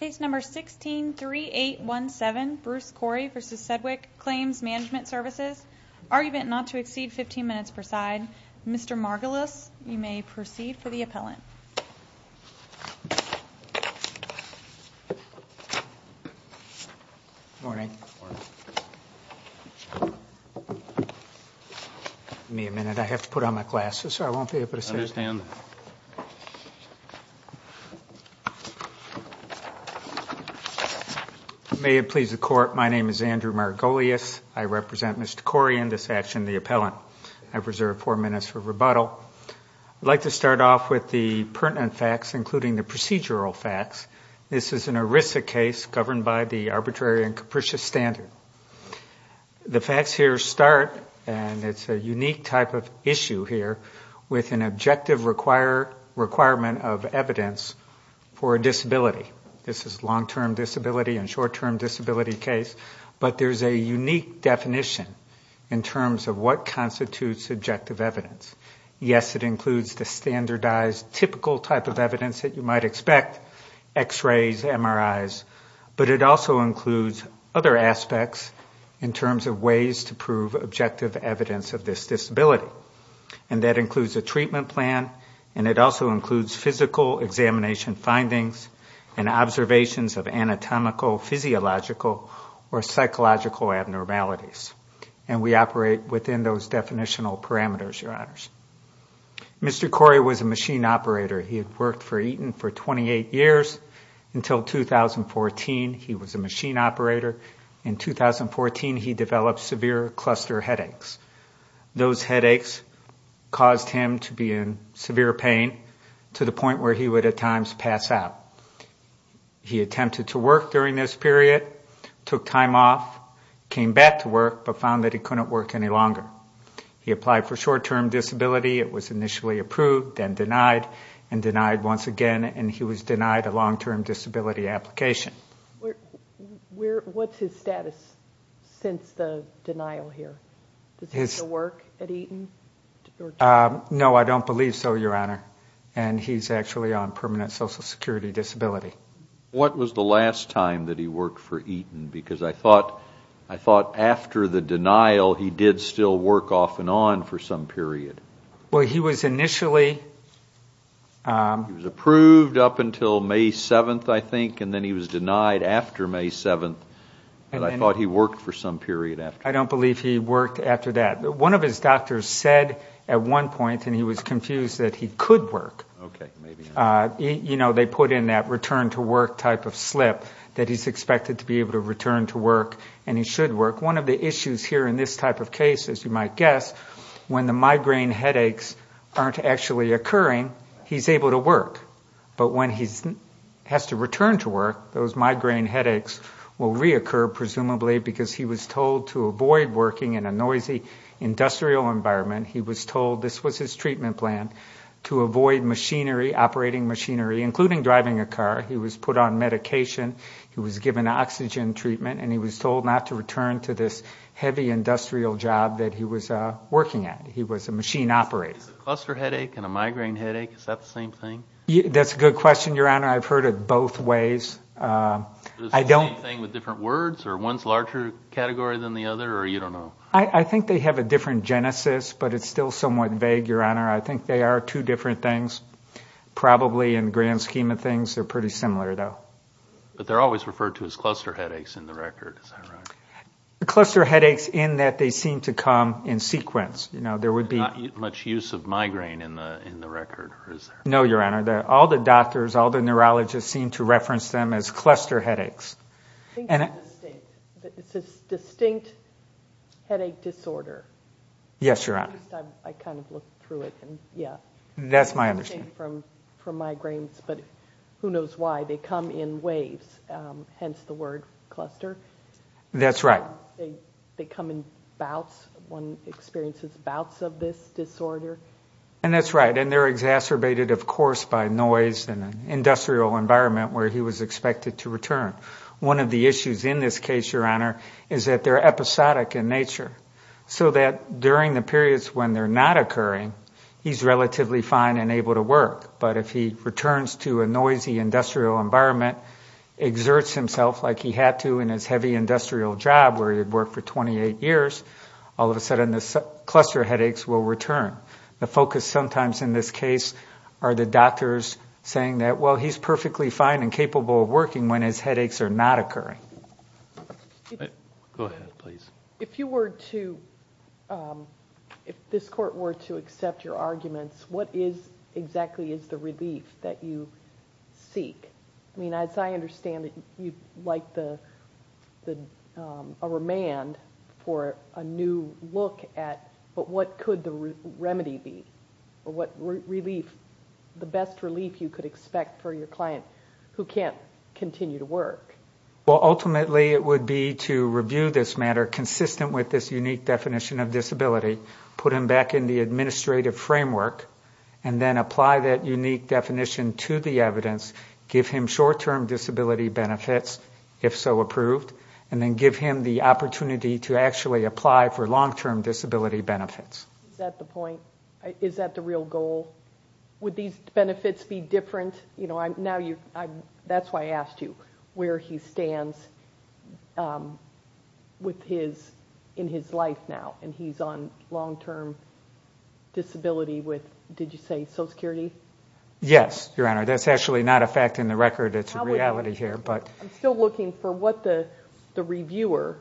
Case number 163817, Bruce Corey v. Sedgwick Claims Mgmt Services. Argument not to exceed 15 minutes per side. Mr. Margolis, you may proceed for the appellant. Morning. Give me a minute. I have to put on my glasses or I won't be able to sit. I understand. May it please the Court, my name is Andrew Margolis. I represent Mr. Corey in this action, the appellant. I've reserved four minutes for rebuttal. I'd like to start off with the pertinent facts, including the procedural facts. This is an ERISA case governed by the Arbitrary and Capricious Standard. The facts here start, and it's a unique type of issue here, with an objective requirement of evidence for a disability. This is a long-term disability and short-term disability case, but there's a unique definition in terms of what constitutes objective evidence. Yes, it includes the standardized, typical type of evidence that you might expect, X-rays, MRIs, but it also includes other aspects in terms of ways to prove objective evidence of this disability. And that includes a treatment plan, and it also includes physical examination findings and observations of anatomical, physiological, or psychological abnormalities. And we operate within those definitional parameters, Your Honors. Mr. Corey was a machine operator. He had worked for Eaton for 28 years until 2014. He was a machine operator. In 2014, he developed severe cluster headaches. Those headaches caused him to be in severe pain to the point where he would at times pass out. He attempted to work during this period, took time off, came back to work, but found that he couldn't work any longer. He applied for short-term disability. It was initially approved, then denied, and denied once again, and he was denied a long-term disability application. What's his status since the denial here? Does he still work at Eaton? No, I don't believe so, Your Honor, and he's actually on permanent social security disability. What was the last time that he worked for Eaton? Because I thought after the denial, he did still work off and on for some period. Well, he was initially... He was approved up until May 7th, I think, and then he was denied after May 7th, and I thought he worked for some period after that. I don't believe he worked after that. One of his doctors said at one point, and he was confused, that he could work. You know, they put in that return to work type of slip, that he's expected to be able to return to work and he should work. One of the issues here in this type of case, as you might guess, when the migraine headaches aren't actually occurring, he's able to work. But when he has to return to work, those migraine headaches will reoccur, presumably because he was told to avoid them. He was told to avoid working in a noisy industrial environment. He was told this was his treatment plan, to avoid machinery, operating machinery, including driving a car. He was put on medication, he was given oxygen treatment, and he was told not to return to this heavy industrial job that he was working at. He was a machine operator. Is a cluster headache and a migraine headache, is that the same thing? That's a good question, Your Honor. I've heard it both ways. I think they have a different genesis, but it's still somewhat vague, Your Honor. I think they are two different things. Probably in the grand scheme of things, they're pretty similar, though. But they're always referred to as cluster headaches in the record, is that right? Cluster headaches in that they seem to come in sequence. Not much use of migraine in the record? No, Your Honor. All the doctors, all the neurologists seem to reference them as cluster headaches. It's a distinct headache disorder. Yes, Your Honor. I kind of looked through it. It's distinct from migraines, but who knows why. They come in waves, hence the word cluster. That's right. They come in bouts. One experiences bouts of this disorder. And that's right. And they're exacerbated, of course, by noise and an industrial environment where he was expected to return. One of the issues in this case, Your Honor, is that they're episodic in nature. So that during the periods when they're not occurring, he's relatively fine and able to work. But if he returns to a noisy industrial environment, exerts himself like he had to in his heavy industrial job where he was supposed to be, he's not going to be able to work. But if he was supposed to be able to work for 28 years, all of a sudden the cluster headaches will return. The focus sometimes in this case are the doctors saying that, well, he's perfectly fine and capable of working when his headaches are not occurring. Go ahead, please. If you were to, if this Court were to accept your arguments, what exactly is the relief that you seek? I mean, as I understand it, you'd like a remand for a new look at, but what could the remedy be? Or what relief, the best relief you could expect for your client who can't continue to work? Well, ultimately it would be to review this matter consistent with this unique definition of disability, put him back in the administrative framework, and then apply that unique definition to the evidence, give him short-term disability benefits, if so approved, and then give him the opportunity to actually apply for long-term disability benefits. Is that the point? Is that the real goal? Would these benefits be different? You know, now you, that's why I asked you, where he stands with his, in his life now. And he's on long-term disability with, did you say Social Security? Yes, Your Honor. That's actually not a fact in the record. It's a reality here. I'm still looking for what the reviewer,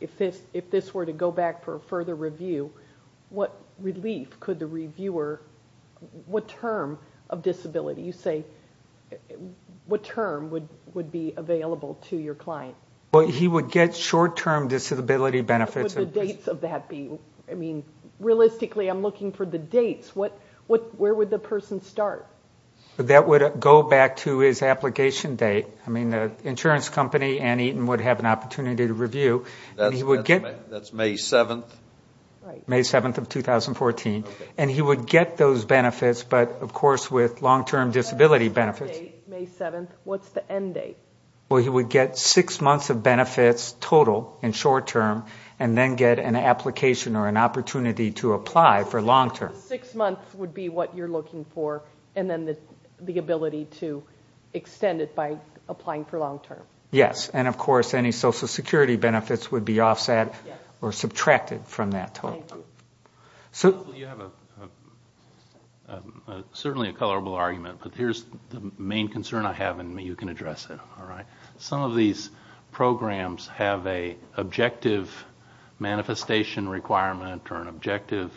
if this were to go back for a further review, what relief could the reviewer, what term of disability? You say, what term would be available to your client? Well, he would get short-term disability benefits. What would the dates of that be? I mean, realistically, I'm looking for the dates. Where would the person start? That would go back to his application date. I mean, the insurance company, Ann Eaton, would have an opportunity to review. That's May 7th. May 7th of 2014. And he would get those benefits, but of course with long-term disability benefits. End date, May 7th. What's the end date? Well, he would get six months of benefits total in short-term, and then get an application or an opportunity to apply for long-term. Six months would be what you're looking for, and then the ability to extend it by applying for long-term. Yes, and of course any Social Security benefits would be offset or subtracted from that total. Thank you. Certainly a colorable argument, but here's the main concern I have, and you can address it. Some of these programs have an objective manifestation requirement or an objective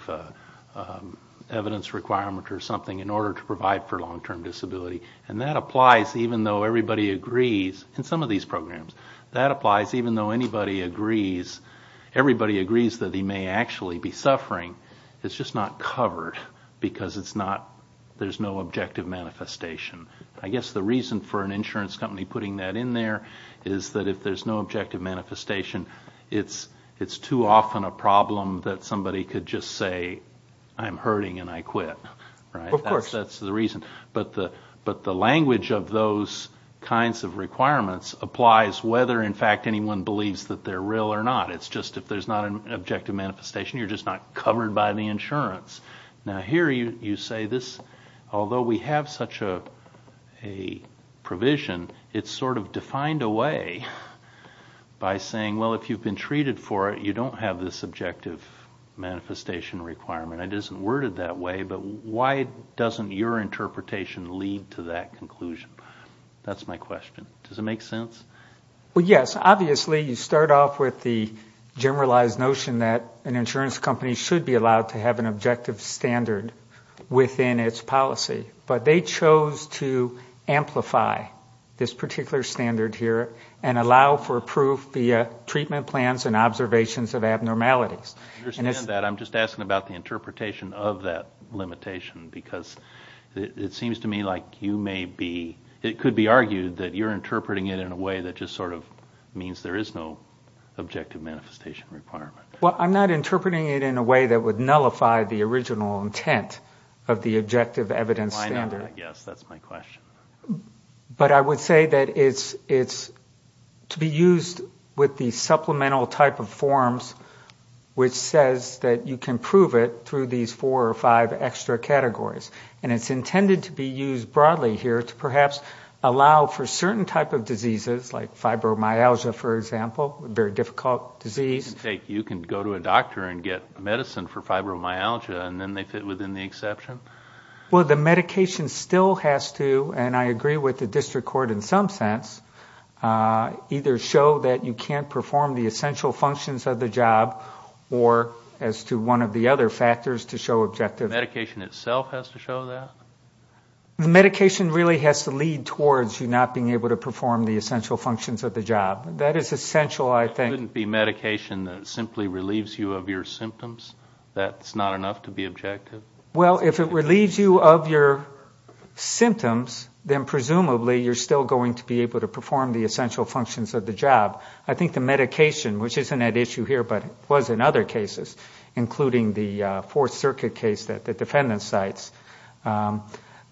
evidence requirement or something in order to provide for long-term disability. And that applies even though everybody agrees in some of these programs. That applies even though everybody agrees that he may actually be suffering. It's just not covered because there's no objective manifestation. I guess the reason for an insurance company putting that in there is that if there's no objective manifestation, it's too often a problem that somebody could just say, I'm hurting and I quit. Of course. That's the reason, but the language of those kinds of requirements applies whether in fact anyone believes that they're real or not. It's just if there's not an objective manifestation, you're just not covered by the insurance. Now here you say this, although we have such a provision, it's sort of defined away by saying, well, if you've been treated for it, you don't have this objective manifestation requirement. It isn't worded that way, but why doesn't your interpretation lead to that conclusion? That's my question. Does it make sense? Well, yes, obviously you start off with the generalized notion that an insurance company should be allowed to have an objective standard within its policy. But they chose to amplify this particular standard here and allow for proof via treatment plans and observations of abnormalities. I'm just asking about the interpretation of that limitation because it seems to me like you may be, it could be argued that you're interpreting it in a way that just sort of means there is no objective manifestation requirement. Well, I'm not interpreting it in a way that would nullify the original intent of the objective evidence standard. I know that, yes, that's my question. But I would say that it's to be used with the supplemental type of forms which says that you can prove it through these four or five extra categories. And it's intended to be used broadly here to perhaps allow for certain type of diseases like fibromyalgia, for example, a very difficult disease. You can go to a doctor and get medicine for fibromyalgia and then they fit within the exception? Well, the medication still has to, and I agree with the district court in some sense, either show that you can't perform the essential functions of the job or as to one of the other factors to show objective. The medication itself has to show that? The medication really has to lead towards you not being able to perform the essential functions of the job. That is essential, I think. Couldn't it be medication that simply relieves you of your symptoms? That's not enough to be objective? Well, if it relieves you of your symptoms, then presumably you're still going to be able to perform the essential functions of the job. I think the medication, which isn't at issue here, but was in other cases, including the Fourth Circuit case that the defendant cites.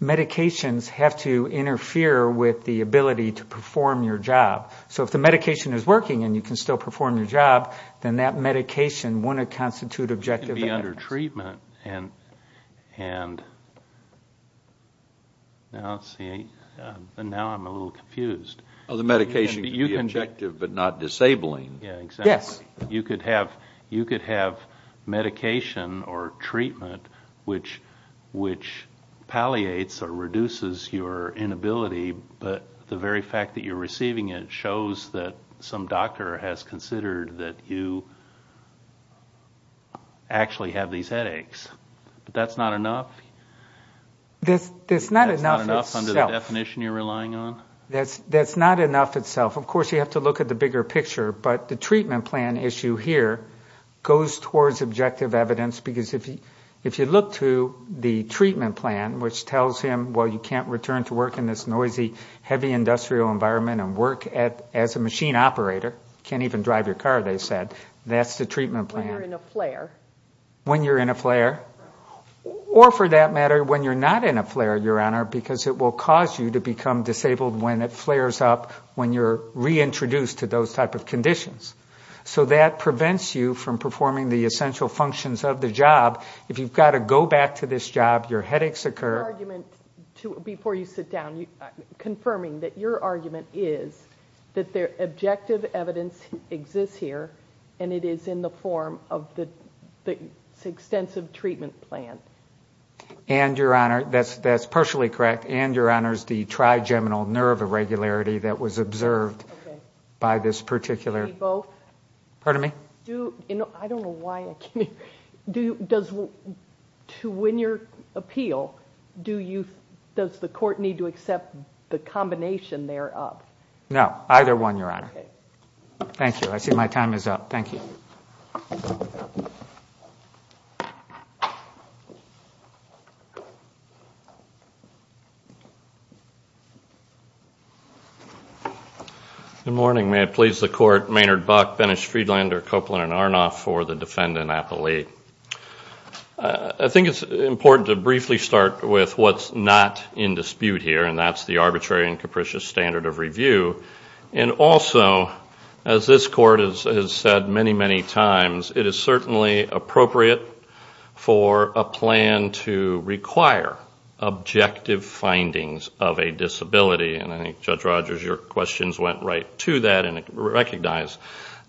Medications have to interfere with the ability to perform your job. So if the medication is working and you can still perform your job, then that medication wouldn't constitute objective. It can be under treatment, and now I'm a little confused. Oh, the medication can be objective but not disabling? Yes. You could have medication or treatment which palliates or reduces your inability, but the very fact that you're receiving it shows that you can't perform your job. It shows that some doctor has considered that you actually have these headaches. But that's not enough? That's not enough itself. Of course you have to look at the bigger picture, but the treatment plan issue here goes towards objective evidence, because if you look to the treatment plan, which tells him, well, you can't return to work in this noisy, heavy industrial environment and work as a machine operator. You can't even drive your car, they said. That's the treatment plan. When you're in a flare? Or for that matter, when you're not in a flare, Your Honor, because it will cause you to become disabled when it flares up, when you're reintroduced to those type of conditions. So that prevents you from performing the essential functions of the job. If you've got to go back to this job, your headaches occur. Your argument, before you sit down, confirming that your argument is that the objective evidence exists here and it is in the form of this extensive treatment plan. And, Your Honor, that's partially correct, and, Your Honor, it's the trigeminal nerve irregularity that was observed by this particular... I don't know why... To win your appeal, does the court need to accept the combination thereof? Thank you. I see my time is up. Thank you. Good morning. May it please the Court. Maynard Buck, Bennis Friedlander, Copeland and Arnoff for the Defendant Appellate. I think it's important to briefly start with what's not in dispute here, and that's the arbitrary and capricious standard of review. And also, as this Court has said many, many times, it is certainly appropriate for a plan to require objective findings of a disability. And I think, Judge Rogers, your questions went right to that and recognized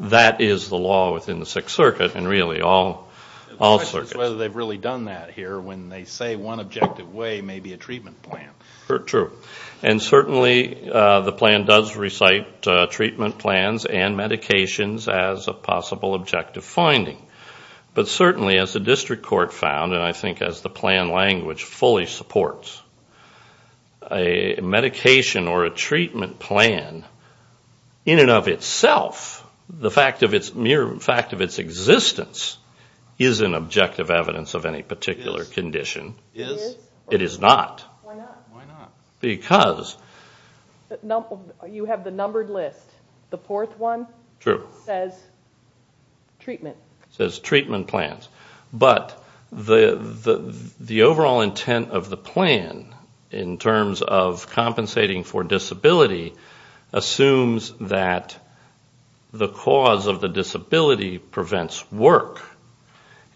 that is the law within the Sixth Circuit, and really all circuits. The question is whether they've really done that here, when they say one objective way may be a treatment plan. True. And certainly the plan does recite treatment plans and medications as a possible objective finding. But certainly, as the District Court found, and I think as the plan language fully supports, a medication or a treatment plan, in and of itself, the mere fact of its existence is an objective evidence of any particular condition. It is? It is not. Why not? Because... You have the numbered list. The fourth one says treatment. It says treatment plans. But the overall intent of the plan, in terms of compensating for disability, assumes that the cause of the disability prevents work.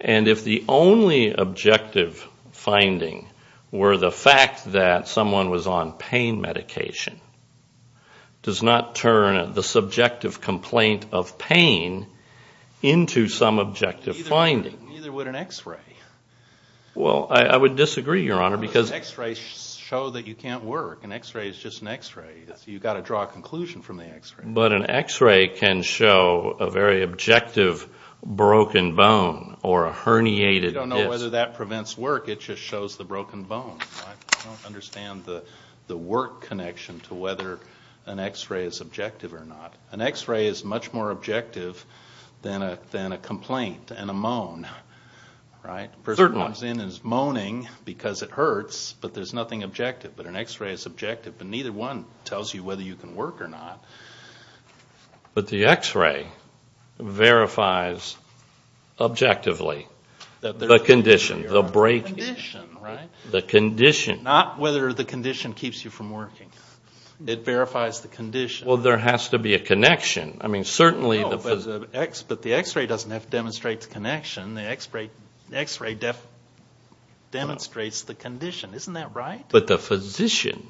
And if the only objective finding were the fact that someone was on pain medication, does not turn the subjective complaint of pain into some objective finding. Neither would an x-ray. Well, I would disagree, Your Honor, because... You don't know whether that prevents work, it just shows the broken bone. I don't understand the work connection to whether an x-ray is objective or not. An x-ray is much more objective than a complaint and a moan, right? A person comes in and is moaning because it hurts, but there's nothing objective. But an x-ray is objective, but neither one tells you whether you can work or not. But the x-ray verifies objectively the condition. The condition, right? Not whether the condition keeps you from working. It verifies the condition. Well, there has to be a connection. I mean, certainly... No, but the x-ray doesn't have to demonstrate the connection. The x-ray demonstrates the condition. Isn't that right? But the physician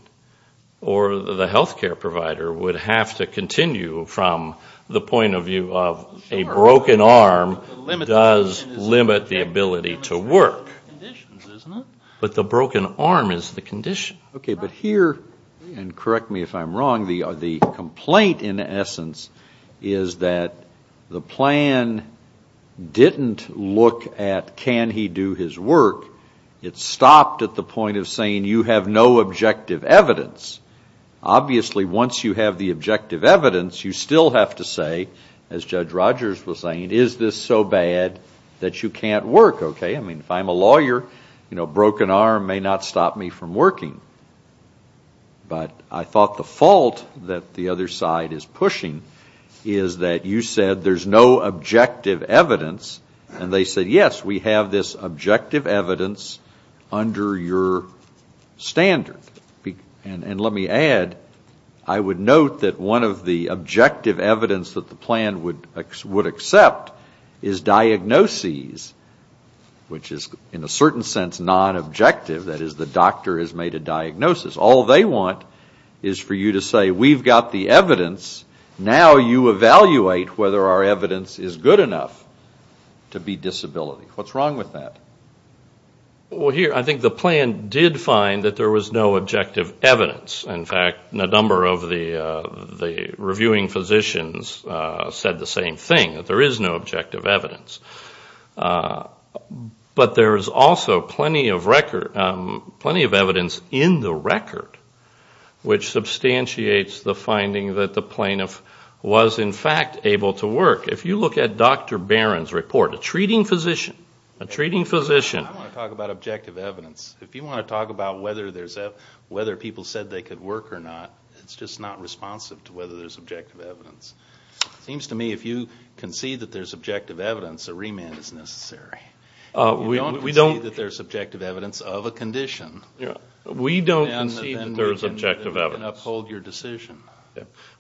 or the health care provider would have to continue from the point of view of a broken arm does limit the ability to work. But the broken arm is the condition. Okay, but here, and correct me if I'm wrong, the complaint in essence is that the plan didn't look at can he do his work. It stopped at the point of saying you have no objective evidence. Obviously, once you have the objective evidence, you still have to say, as Judge Rogers was saying, is this so bad that you can't work, okay? I mean, if I'm a lawyer, a broken arm may not stop me from working. But I thought the fault that the other side is pushing is that you said there's no objective evidence, and they said, yes, we have this objective evidence under your standard. And let me add, I would note that one of the objective evidence that the plan would accept is diagnoses, which is in a certain sense non-objective, that is the doctor has made a diagnosis. All they want is for you to say, we've got the evidence, now you evaluate whether our evidence is good enough. What's wrong with that? Well, here, I think the plan did find that there was no objective evidence. In fact, a number of the reviewing physicians said the same thing, that there is no objective evidence. But there is also plenty of record, plenty of evidence in the record, which substantiates the finding that the plaintiff was in fact able to work. If you look at Dr. Barron's report, a treating physician, a treating physician. I don't want to talk about objective evidence. If you want to talk about whether people said they could work or not, it's just not responsive to whether there's objective evidence. It seems to me if you concede that there's objective evidence, a remand is necessary. We don't concede that there's objective evidence of a condition. We don't concede that there's objective evidence.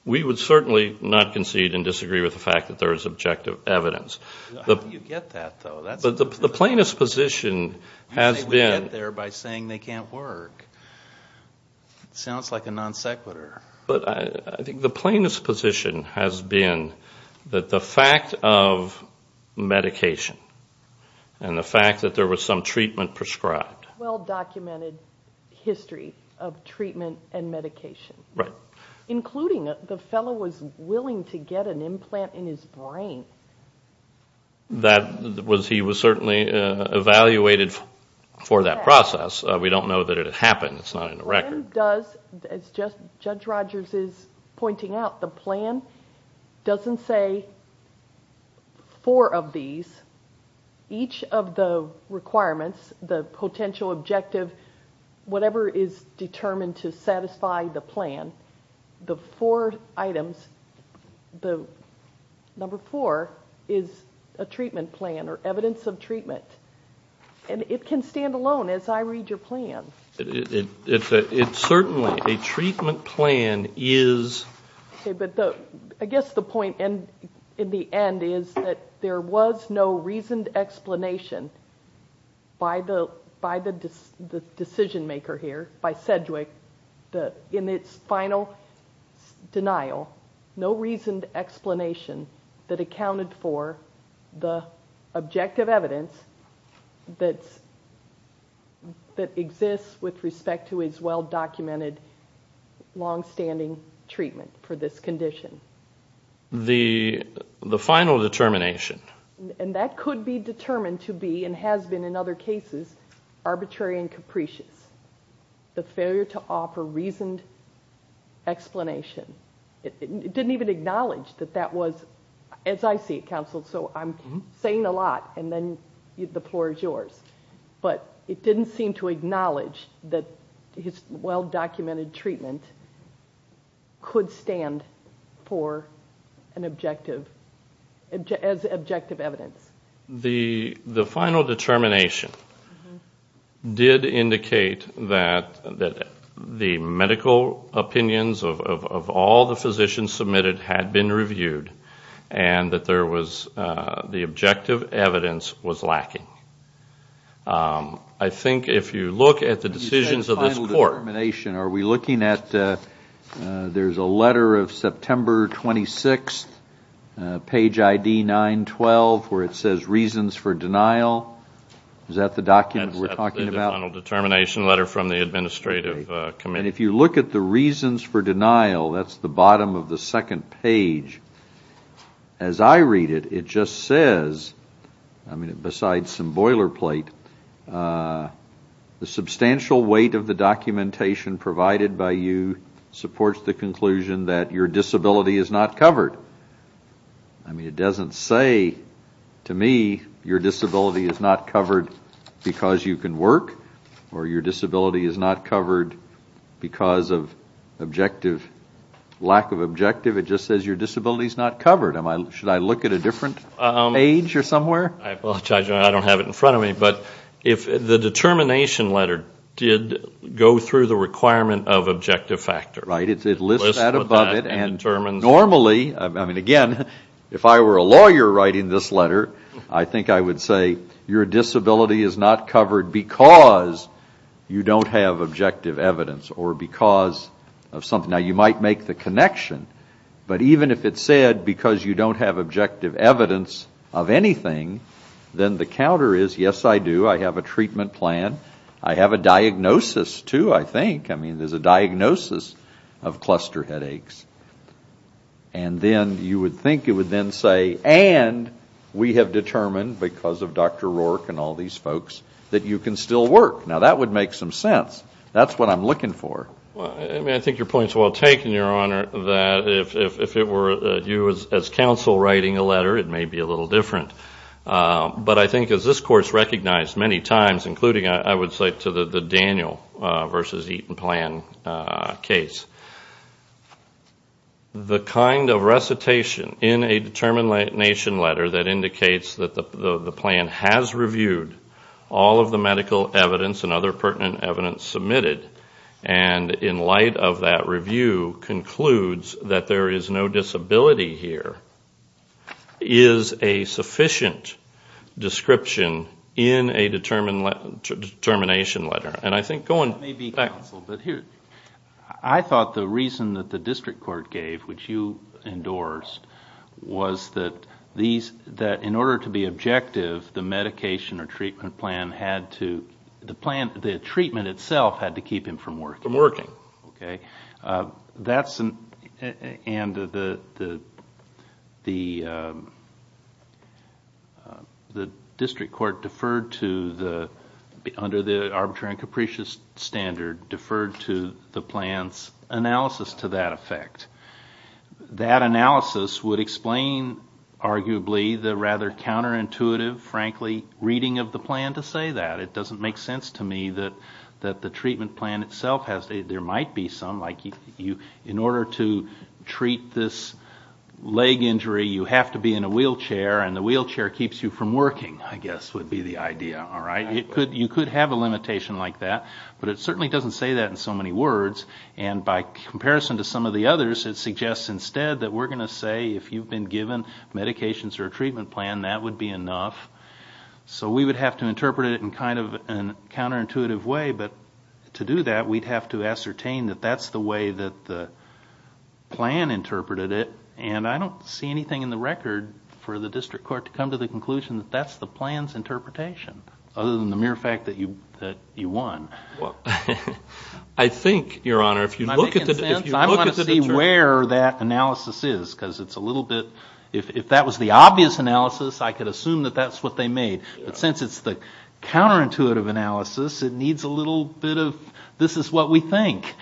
We would certainly not concede and disagree with the fact that there is objective evidence. How do you get that, though? You say we get there by saying they can't work. Sounds like a non sequitur. But I think the plaintiff's position has been that the fact of medication and the fact that there was some treatment prescribed. Well documented history of treatment and medication. Including the fellow was willing to get an implant in his brain. He was certainly evaluated for that process. We don't know that it happened. The plan doesn't say four of these. Each of the requirements, the potential objective, whatever is determined to satisfy the plan, the four items, number four is a treatment plan or evidence of treatment. And it can stand alone as I read your plan. I guess the point in the end is that there was no reasoned explanation by the decision maker here, by Sedgwick, in its final denial, no reasoned explanation that accounted for the objective evidence that exists with respect to its well documented long standing treatment for this condition. The final determination. And that could be determined to be, and has been in other cases, arbitrary and capricious. The failure to offer reasoned explanation. It didn't even acknowledge that that was, as I see it counsel, so I'm saying a lot, and then the floor is yours. But it didn't seem to acknowledge that his well documented treatment could stand for an objective, as objective evidence. The final determination did indicate that the medical opinions of all of us, all the physicians submitted had been reviewed, and that there was, the objective evidence was lacking. I think if you look at the decisions of this court. There's a letter of September 26th, page ID 912, where it says reasons for denial. Is that the document we're talking about? The final determination letter from the administrative committee. And if you look at the reasons for denial, that's the bottom of the second page. As I read it, it just says, besides some boilerplate, the substantial weight of the documentation provided by you supports the conclusion that your disability is not covered. It doesn't say, to me, your disability is not covered because you can work, or your disability is not covered because of objective, lack of objective. It just says your disability is not covered. Should I look at a different page or somewhere? I apologize, I don't have it in front of me, but the determination letter did go through the requirement of objective factor. It lists that above it, and normally, again, if I were a lawyer writing this letter, I think I would say, your disability is not covered because you don't have objective evidence, or because of something. Now, you might make the connection, but even if it said because you don't have objective evidence of anything, then the counter is, yes, I do, I have a treatment plan, I have a diagnosis, too, I think. I mean, there's a diagnosis of cluster headaches. And then you would think it would then say, and we have determined, because of Dr. Rourke and all these folks, that you can still work. Now, that would make some sense. That's what I'm looking for. I think your point is well taken, Your Honor, that if it were you as counsel writing a letter, it may be a little different. But I think, as this Court has recognized many times, including, I would say, to the Daniel v. Eaton plan case, the kind of recitation in a determination letter that indicates that the plan has reviewed all of the medical evidence and other pertinent evidence submitted, and in light of that review, concludes that there is no disability here, is a sufficient description in a determination letter. And I think going back... I thought the reason that the district court gave, which you endorsed, was that in order to be objective, the medication or treatment plan had to, the treatment itself had to keep him from working. Okay. The district court, under the arbitrary and capricious standard, deferred to the plan's analysis to that effect. That analysis would explain, arguably, the rather counterintuitive, frankly, reading of the plan to say that. It doesn't make sense to me that the treatment plan itself has... There might be some, like, in order to treat this leg injury, you have to be in a wheelchair, and the wheelchair keeps you from working, I guess would be the idea, all right? You could have a limitation like that, but it certainly doesn't say that in so many words. And by comparison to some of the others, it suggests instead that we're going to say, if you've been given medications or a treatment plan, that would be enough. So we would have to interpret it in kind of a counterintuitive way, but to do that, we'd have to ascertain that that's the way that the plan interpreted it. And I don't see anything in the record for the district court to come to the conclusion that that's the plan's interpretation, other than the mere fact that you won. I think, Your Honor, if you look at the... I want to see where that analysis is, because it's a little bit... If that was the obvious analysis, I could assume that that's what they made. But since it's the counterintuitive analysis, it needs a little bit of this is what we think.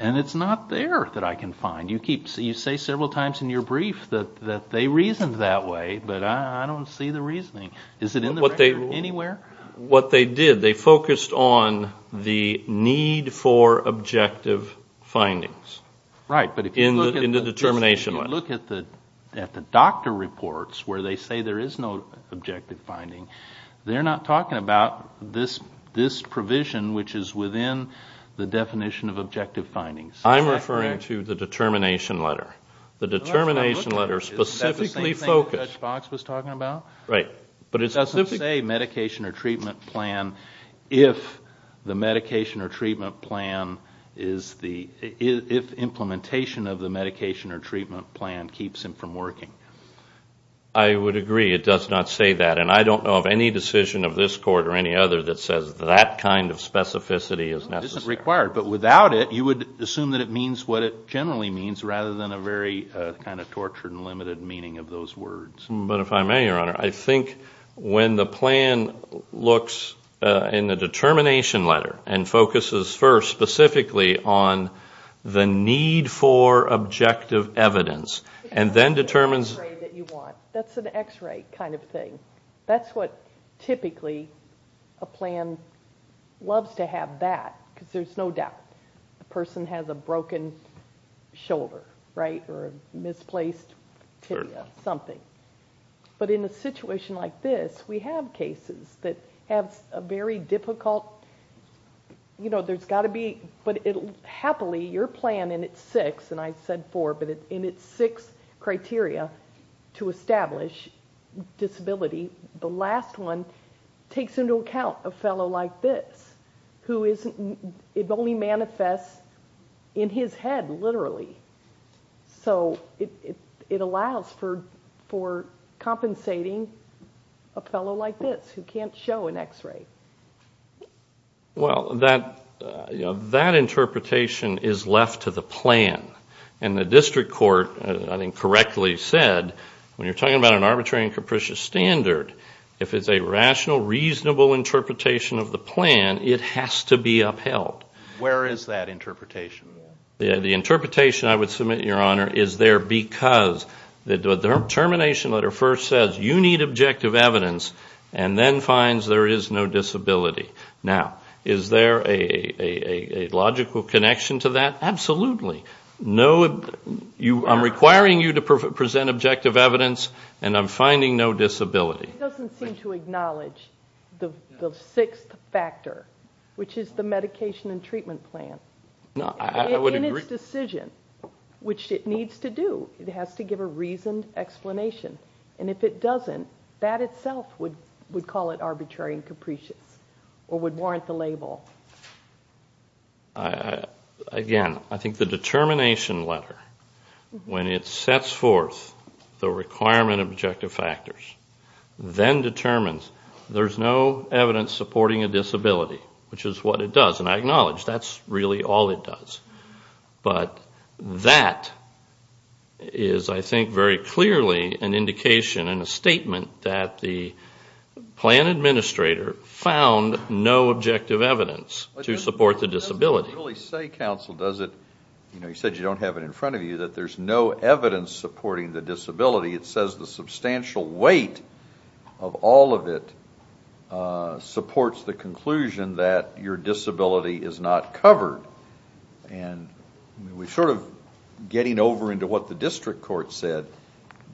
And it's not there that I can find. You say several times in your brief that they reasoned that way, but I don't see the reasoning. Is it in the record anywhere? What they did, they focused on the need for objective findings in the determination letter. Right, but if you look at the doctor reports where they say there is no objective finding, they're not talking about this provision which is within the definition of objective findings. I'm referring to the determination letter. The determination letter specifically focused... But it doesn't say medication or treatment plan if the medication or treatment plan is the, if implementation of the medication or treatment plan keeps him from working. I would agree. It does not say that. And I don't know of any decision of this Court or any other that says that kind of specificity is necessary. It isn't required. But without it, you would assume that it means what it generally means, rather than a very kind of tortured and limited meaning of those words. But if I may, Your Honor, I think when the plan looks in the determination letter and focuses first specifically on the need for objective evidence, and then determines... That's an x-ray kind of thing. That's what typically a plan loves to have that, because there's no doubt. A person has a broken shoulder, right, or a misplaced tibia, something. But in a situation like this, we have cases that have a very difficult... You know, there's got to be... But happily, your plan in its six, and I said four, but in its six criteria to establish disability, the last one takes into account a fellow like this, who only manifests in his head, literally. So it allows for compensating a fellow like this, who can't show an x-ray. Well, that interpretation is left to the plan. And the district court, I think, correctly said, when you're talking about an arbitrary and capricious standard, if it's a rational, reasonable interpretation of the plan, it has to be upheld. Where is that interpretation? The interpretation, I would submit, Your Honor, is there because the determination letter first says, you need objective evidence, and then finds there is no disability. Now, is there a logical connection to that? Absolutely. No, I'm requiring you to present objective evidence, and I'm finding no disability. It doesn't seem to acknowledge the sixth factor, which is the medication and treatment plan. In its decision, which it needs to do, it has to give a reasoned explanation. And if it doesn't, that itself would call it arbitrary and capricious, or would warrant the label. Again, I think the determination letter, when it sets forth the requirement of objective factors, then determines there's no evidence supporting a disability, which is what it does. And I acknowledge that's really all it does. But that is, I think, very clearly an indication and a statement that the plan administrator found no objective evidence to support the disability. It doesn't really say, counsel, does it? You know, you said you don't have it in front of you, that there's no evidence supporting the disability. It says the substantial weight of all of it supports the conclusion that your disability is not covered. And we're sort of getting over into what the district court said,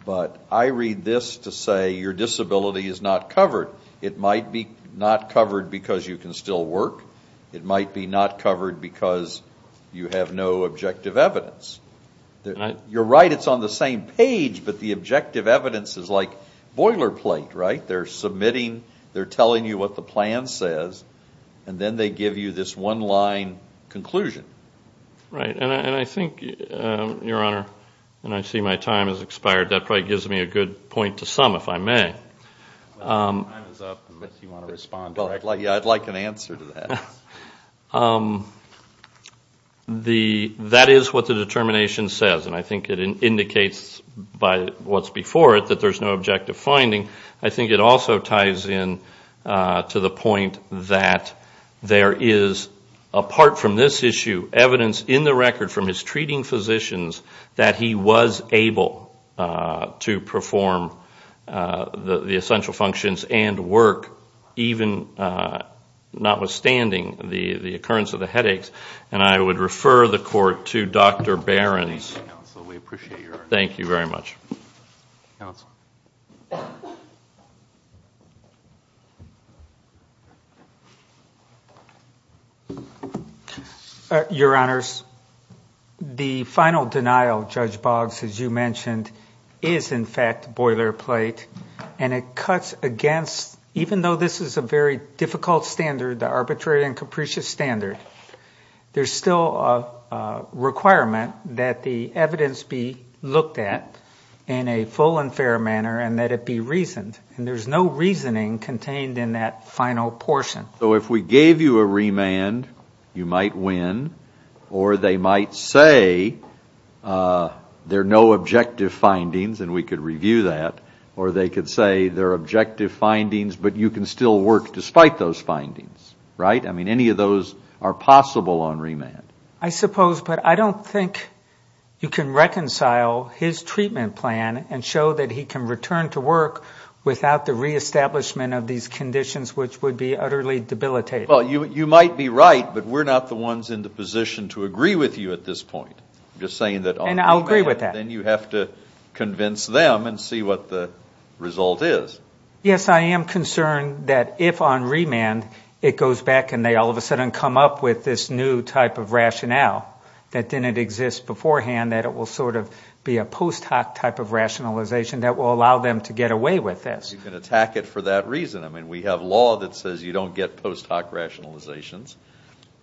but I read this to say your disability is not covered. It might be not covered because you can still work. It might be not covered because you have no objective evidence. You're right, it's on the same page, but the objective evidence is like boilerplate, right? They're submitting, they're telling you what the plan says, and then they give you this one-line conclusion. Right. And I think, Your Honor, and I see my time has expired, that probably gives me a good point to sum, if I may. Time is up, unless you want to respond directly. I'd like an answer to that. That is what the determination says, and I think it indicates by what's before it that there's no objective finding. I think it also ties in to the point that there is, apart from this issue, evidence in the record from his treating physicians, that he was able to perform the essential functions and work, even notwithstanding the occurrence of the headaches. And I would refer the Court to Dr. Behrens. Thank you very much. Counsel. Your Honors, the final denial, Judge Boggs, as you mentioned, is in fact boilerplate, and it cuts against, even though this is a very difficult standard, the arbitrary and capricious standard, there's still a requirement that the evidence be looked at, in a full and fair manner, and that it be reasoned. And there's no reasoning contained in that final portion. So if we gave you a remand, you might win, or they might say there are no objective findings, and we could review that, or they could say there are objective findings, but you can still work despite those findings, right? I mean, any of those are possible on remand. I suppose, but I don't think you can reconcile his treatment plan and show that he can return to work without the reestablishment of these conditions, which would be utterly debilitating. Well, you might be right, but we're not the ones in the position to agree with you at this point. I'm just saying that on remand, then you have to convince them and see what the result is. Yes, I am concerned that if on remand it goes back and they all of a sudden come up with this new type of radical rationale that didn't exist beforehand, that it will sort of be a post hoc type of rationalization that will allow them to get away with this. You can attack it for that reason. I mean, we have law that says you don't get post hoc rationalizations.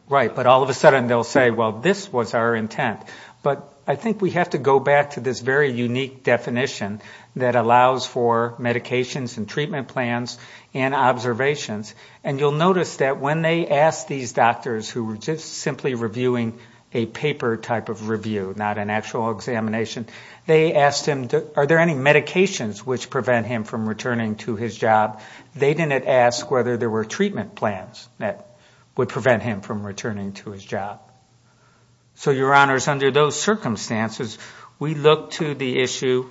Right, but all of a sudden they'll say, well, this was our intent. But I think we have to go back to this very unique definition that allows for medications and treatment plans and observations. And you'll notice that when they asked these doctors who were just simply reviewing a paper type of review, not an actual examination, they asked him, are there any medications which prevent him from returning to his job? They didn't ask whether there were treatment plans that would prevent him from returning to his job. So, Your Honors, under those circumstances, we look to the issue.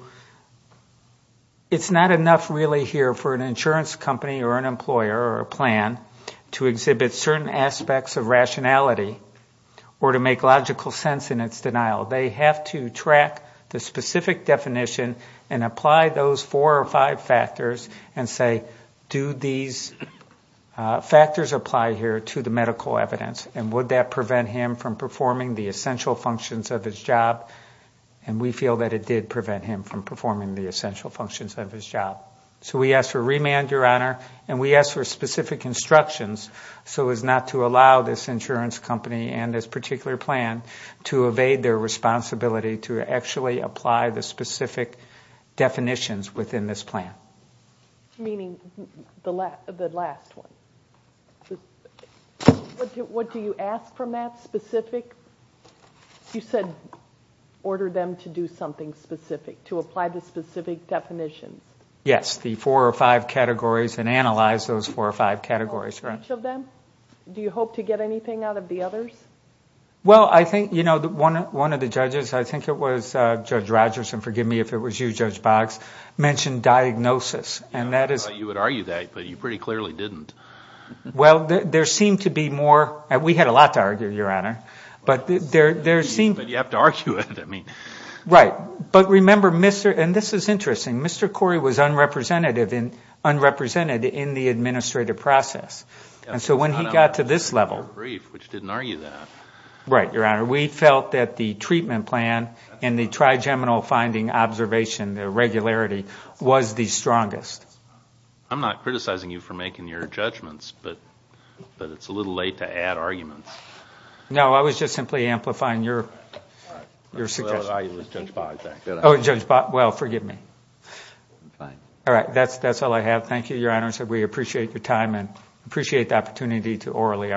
It's not enough really here for an insurance company or an employer or a plan to exhibit certain aspects of rationality or to make logical sense in its denial. They have to track the specific definition and apply those four or five factors and say, do these factors apply here to the medical evidence? And would that prevent him from performing the essential functions of his job? And we feel that it did prevent him from performing the essential functions of his job. So we ask for remand, Your Honor, and we ask for specific instructions so as not to allow this insurance company and this particular plan to evade their responsibility to actually apply the specific definitions within this plan. Meaning the last one. What do you ask from that specific? You said order them to do something specific, to apply the specific definition. Yes, the four or five categories and analyze those four or five categories. Do you hope to get anything out of the others? Well, I think, you know, one of the judges, I think it was Judge Rogers, and forgive me if it was you, Judge Boggs, mentioned diagnosis. I thought you would argue that, but you pretty clearly didn't. Well, there seemed to be more, we had a lot to argue, Your Honor. But you have to argue it. Right, but remember, and this is interesting, Mr. Corey was unrepresented in the administrative process. And so when he got to this level. Right, Your Honor, we felt that the treatment plan and the trigeminal finding observation, the regularity, was the strongest. I'm not criticizing you for making your judgments, but it's a little late to add arguments. No, I was just simply amplifying your suggestion. Well, it was Judge Boggs, actually. Oh, Judge Boggs, well, forgive me. All right, that's all I have. Thank you, Your Honor, we appreciate your time and appreciate the opportunity to orally argue this.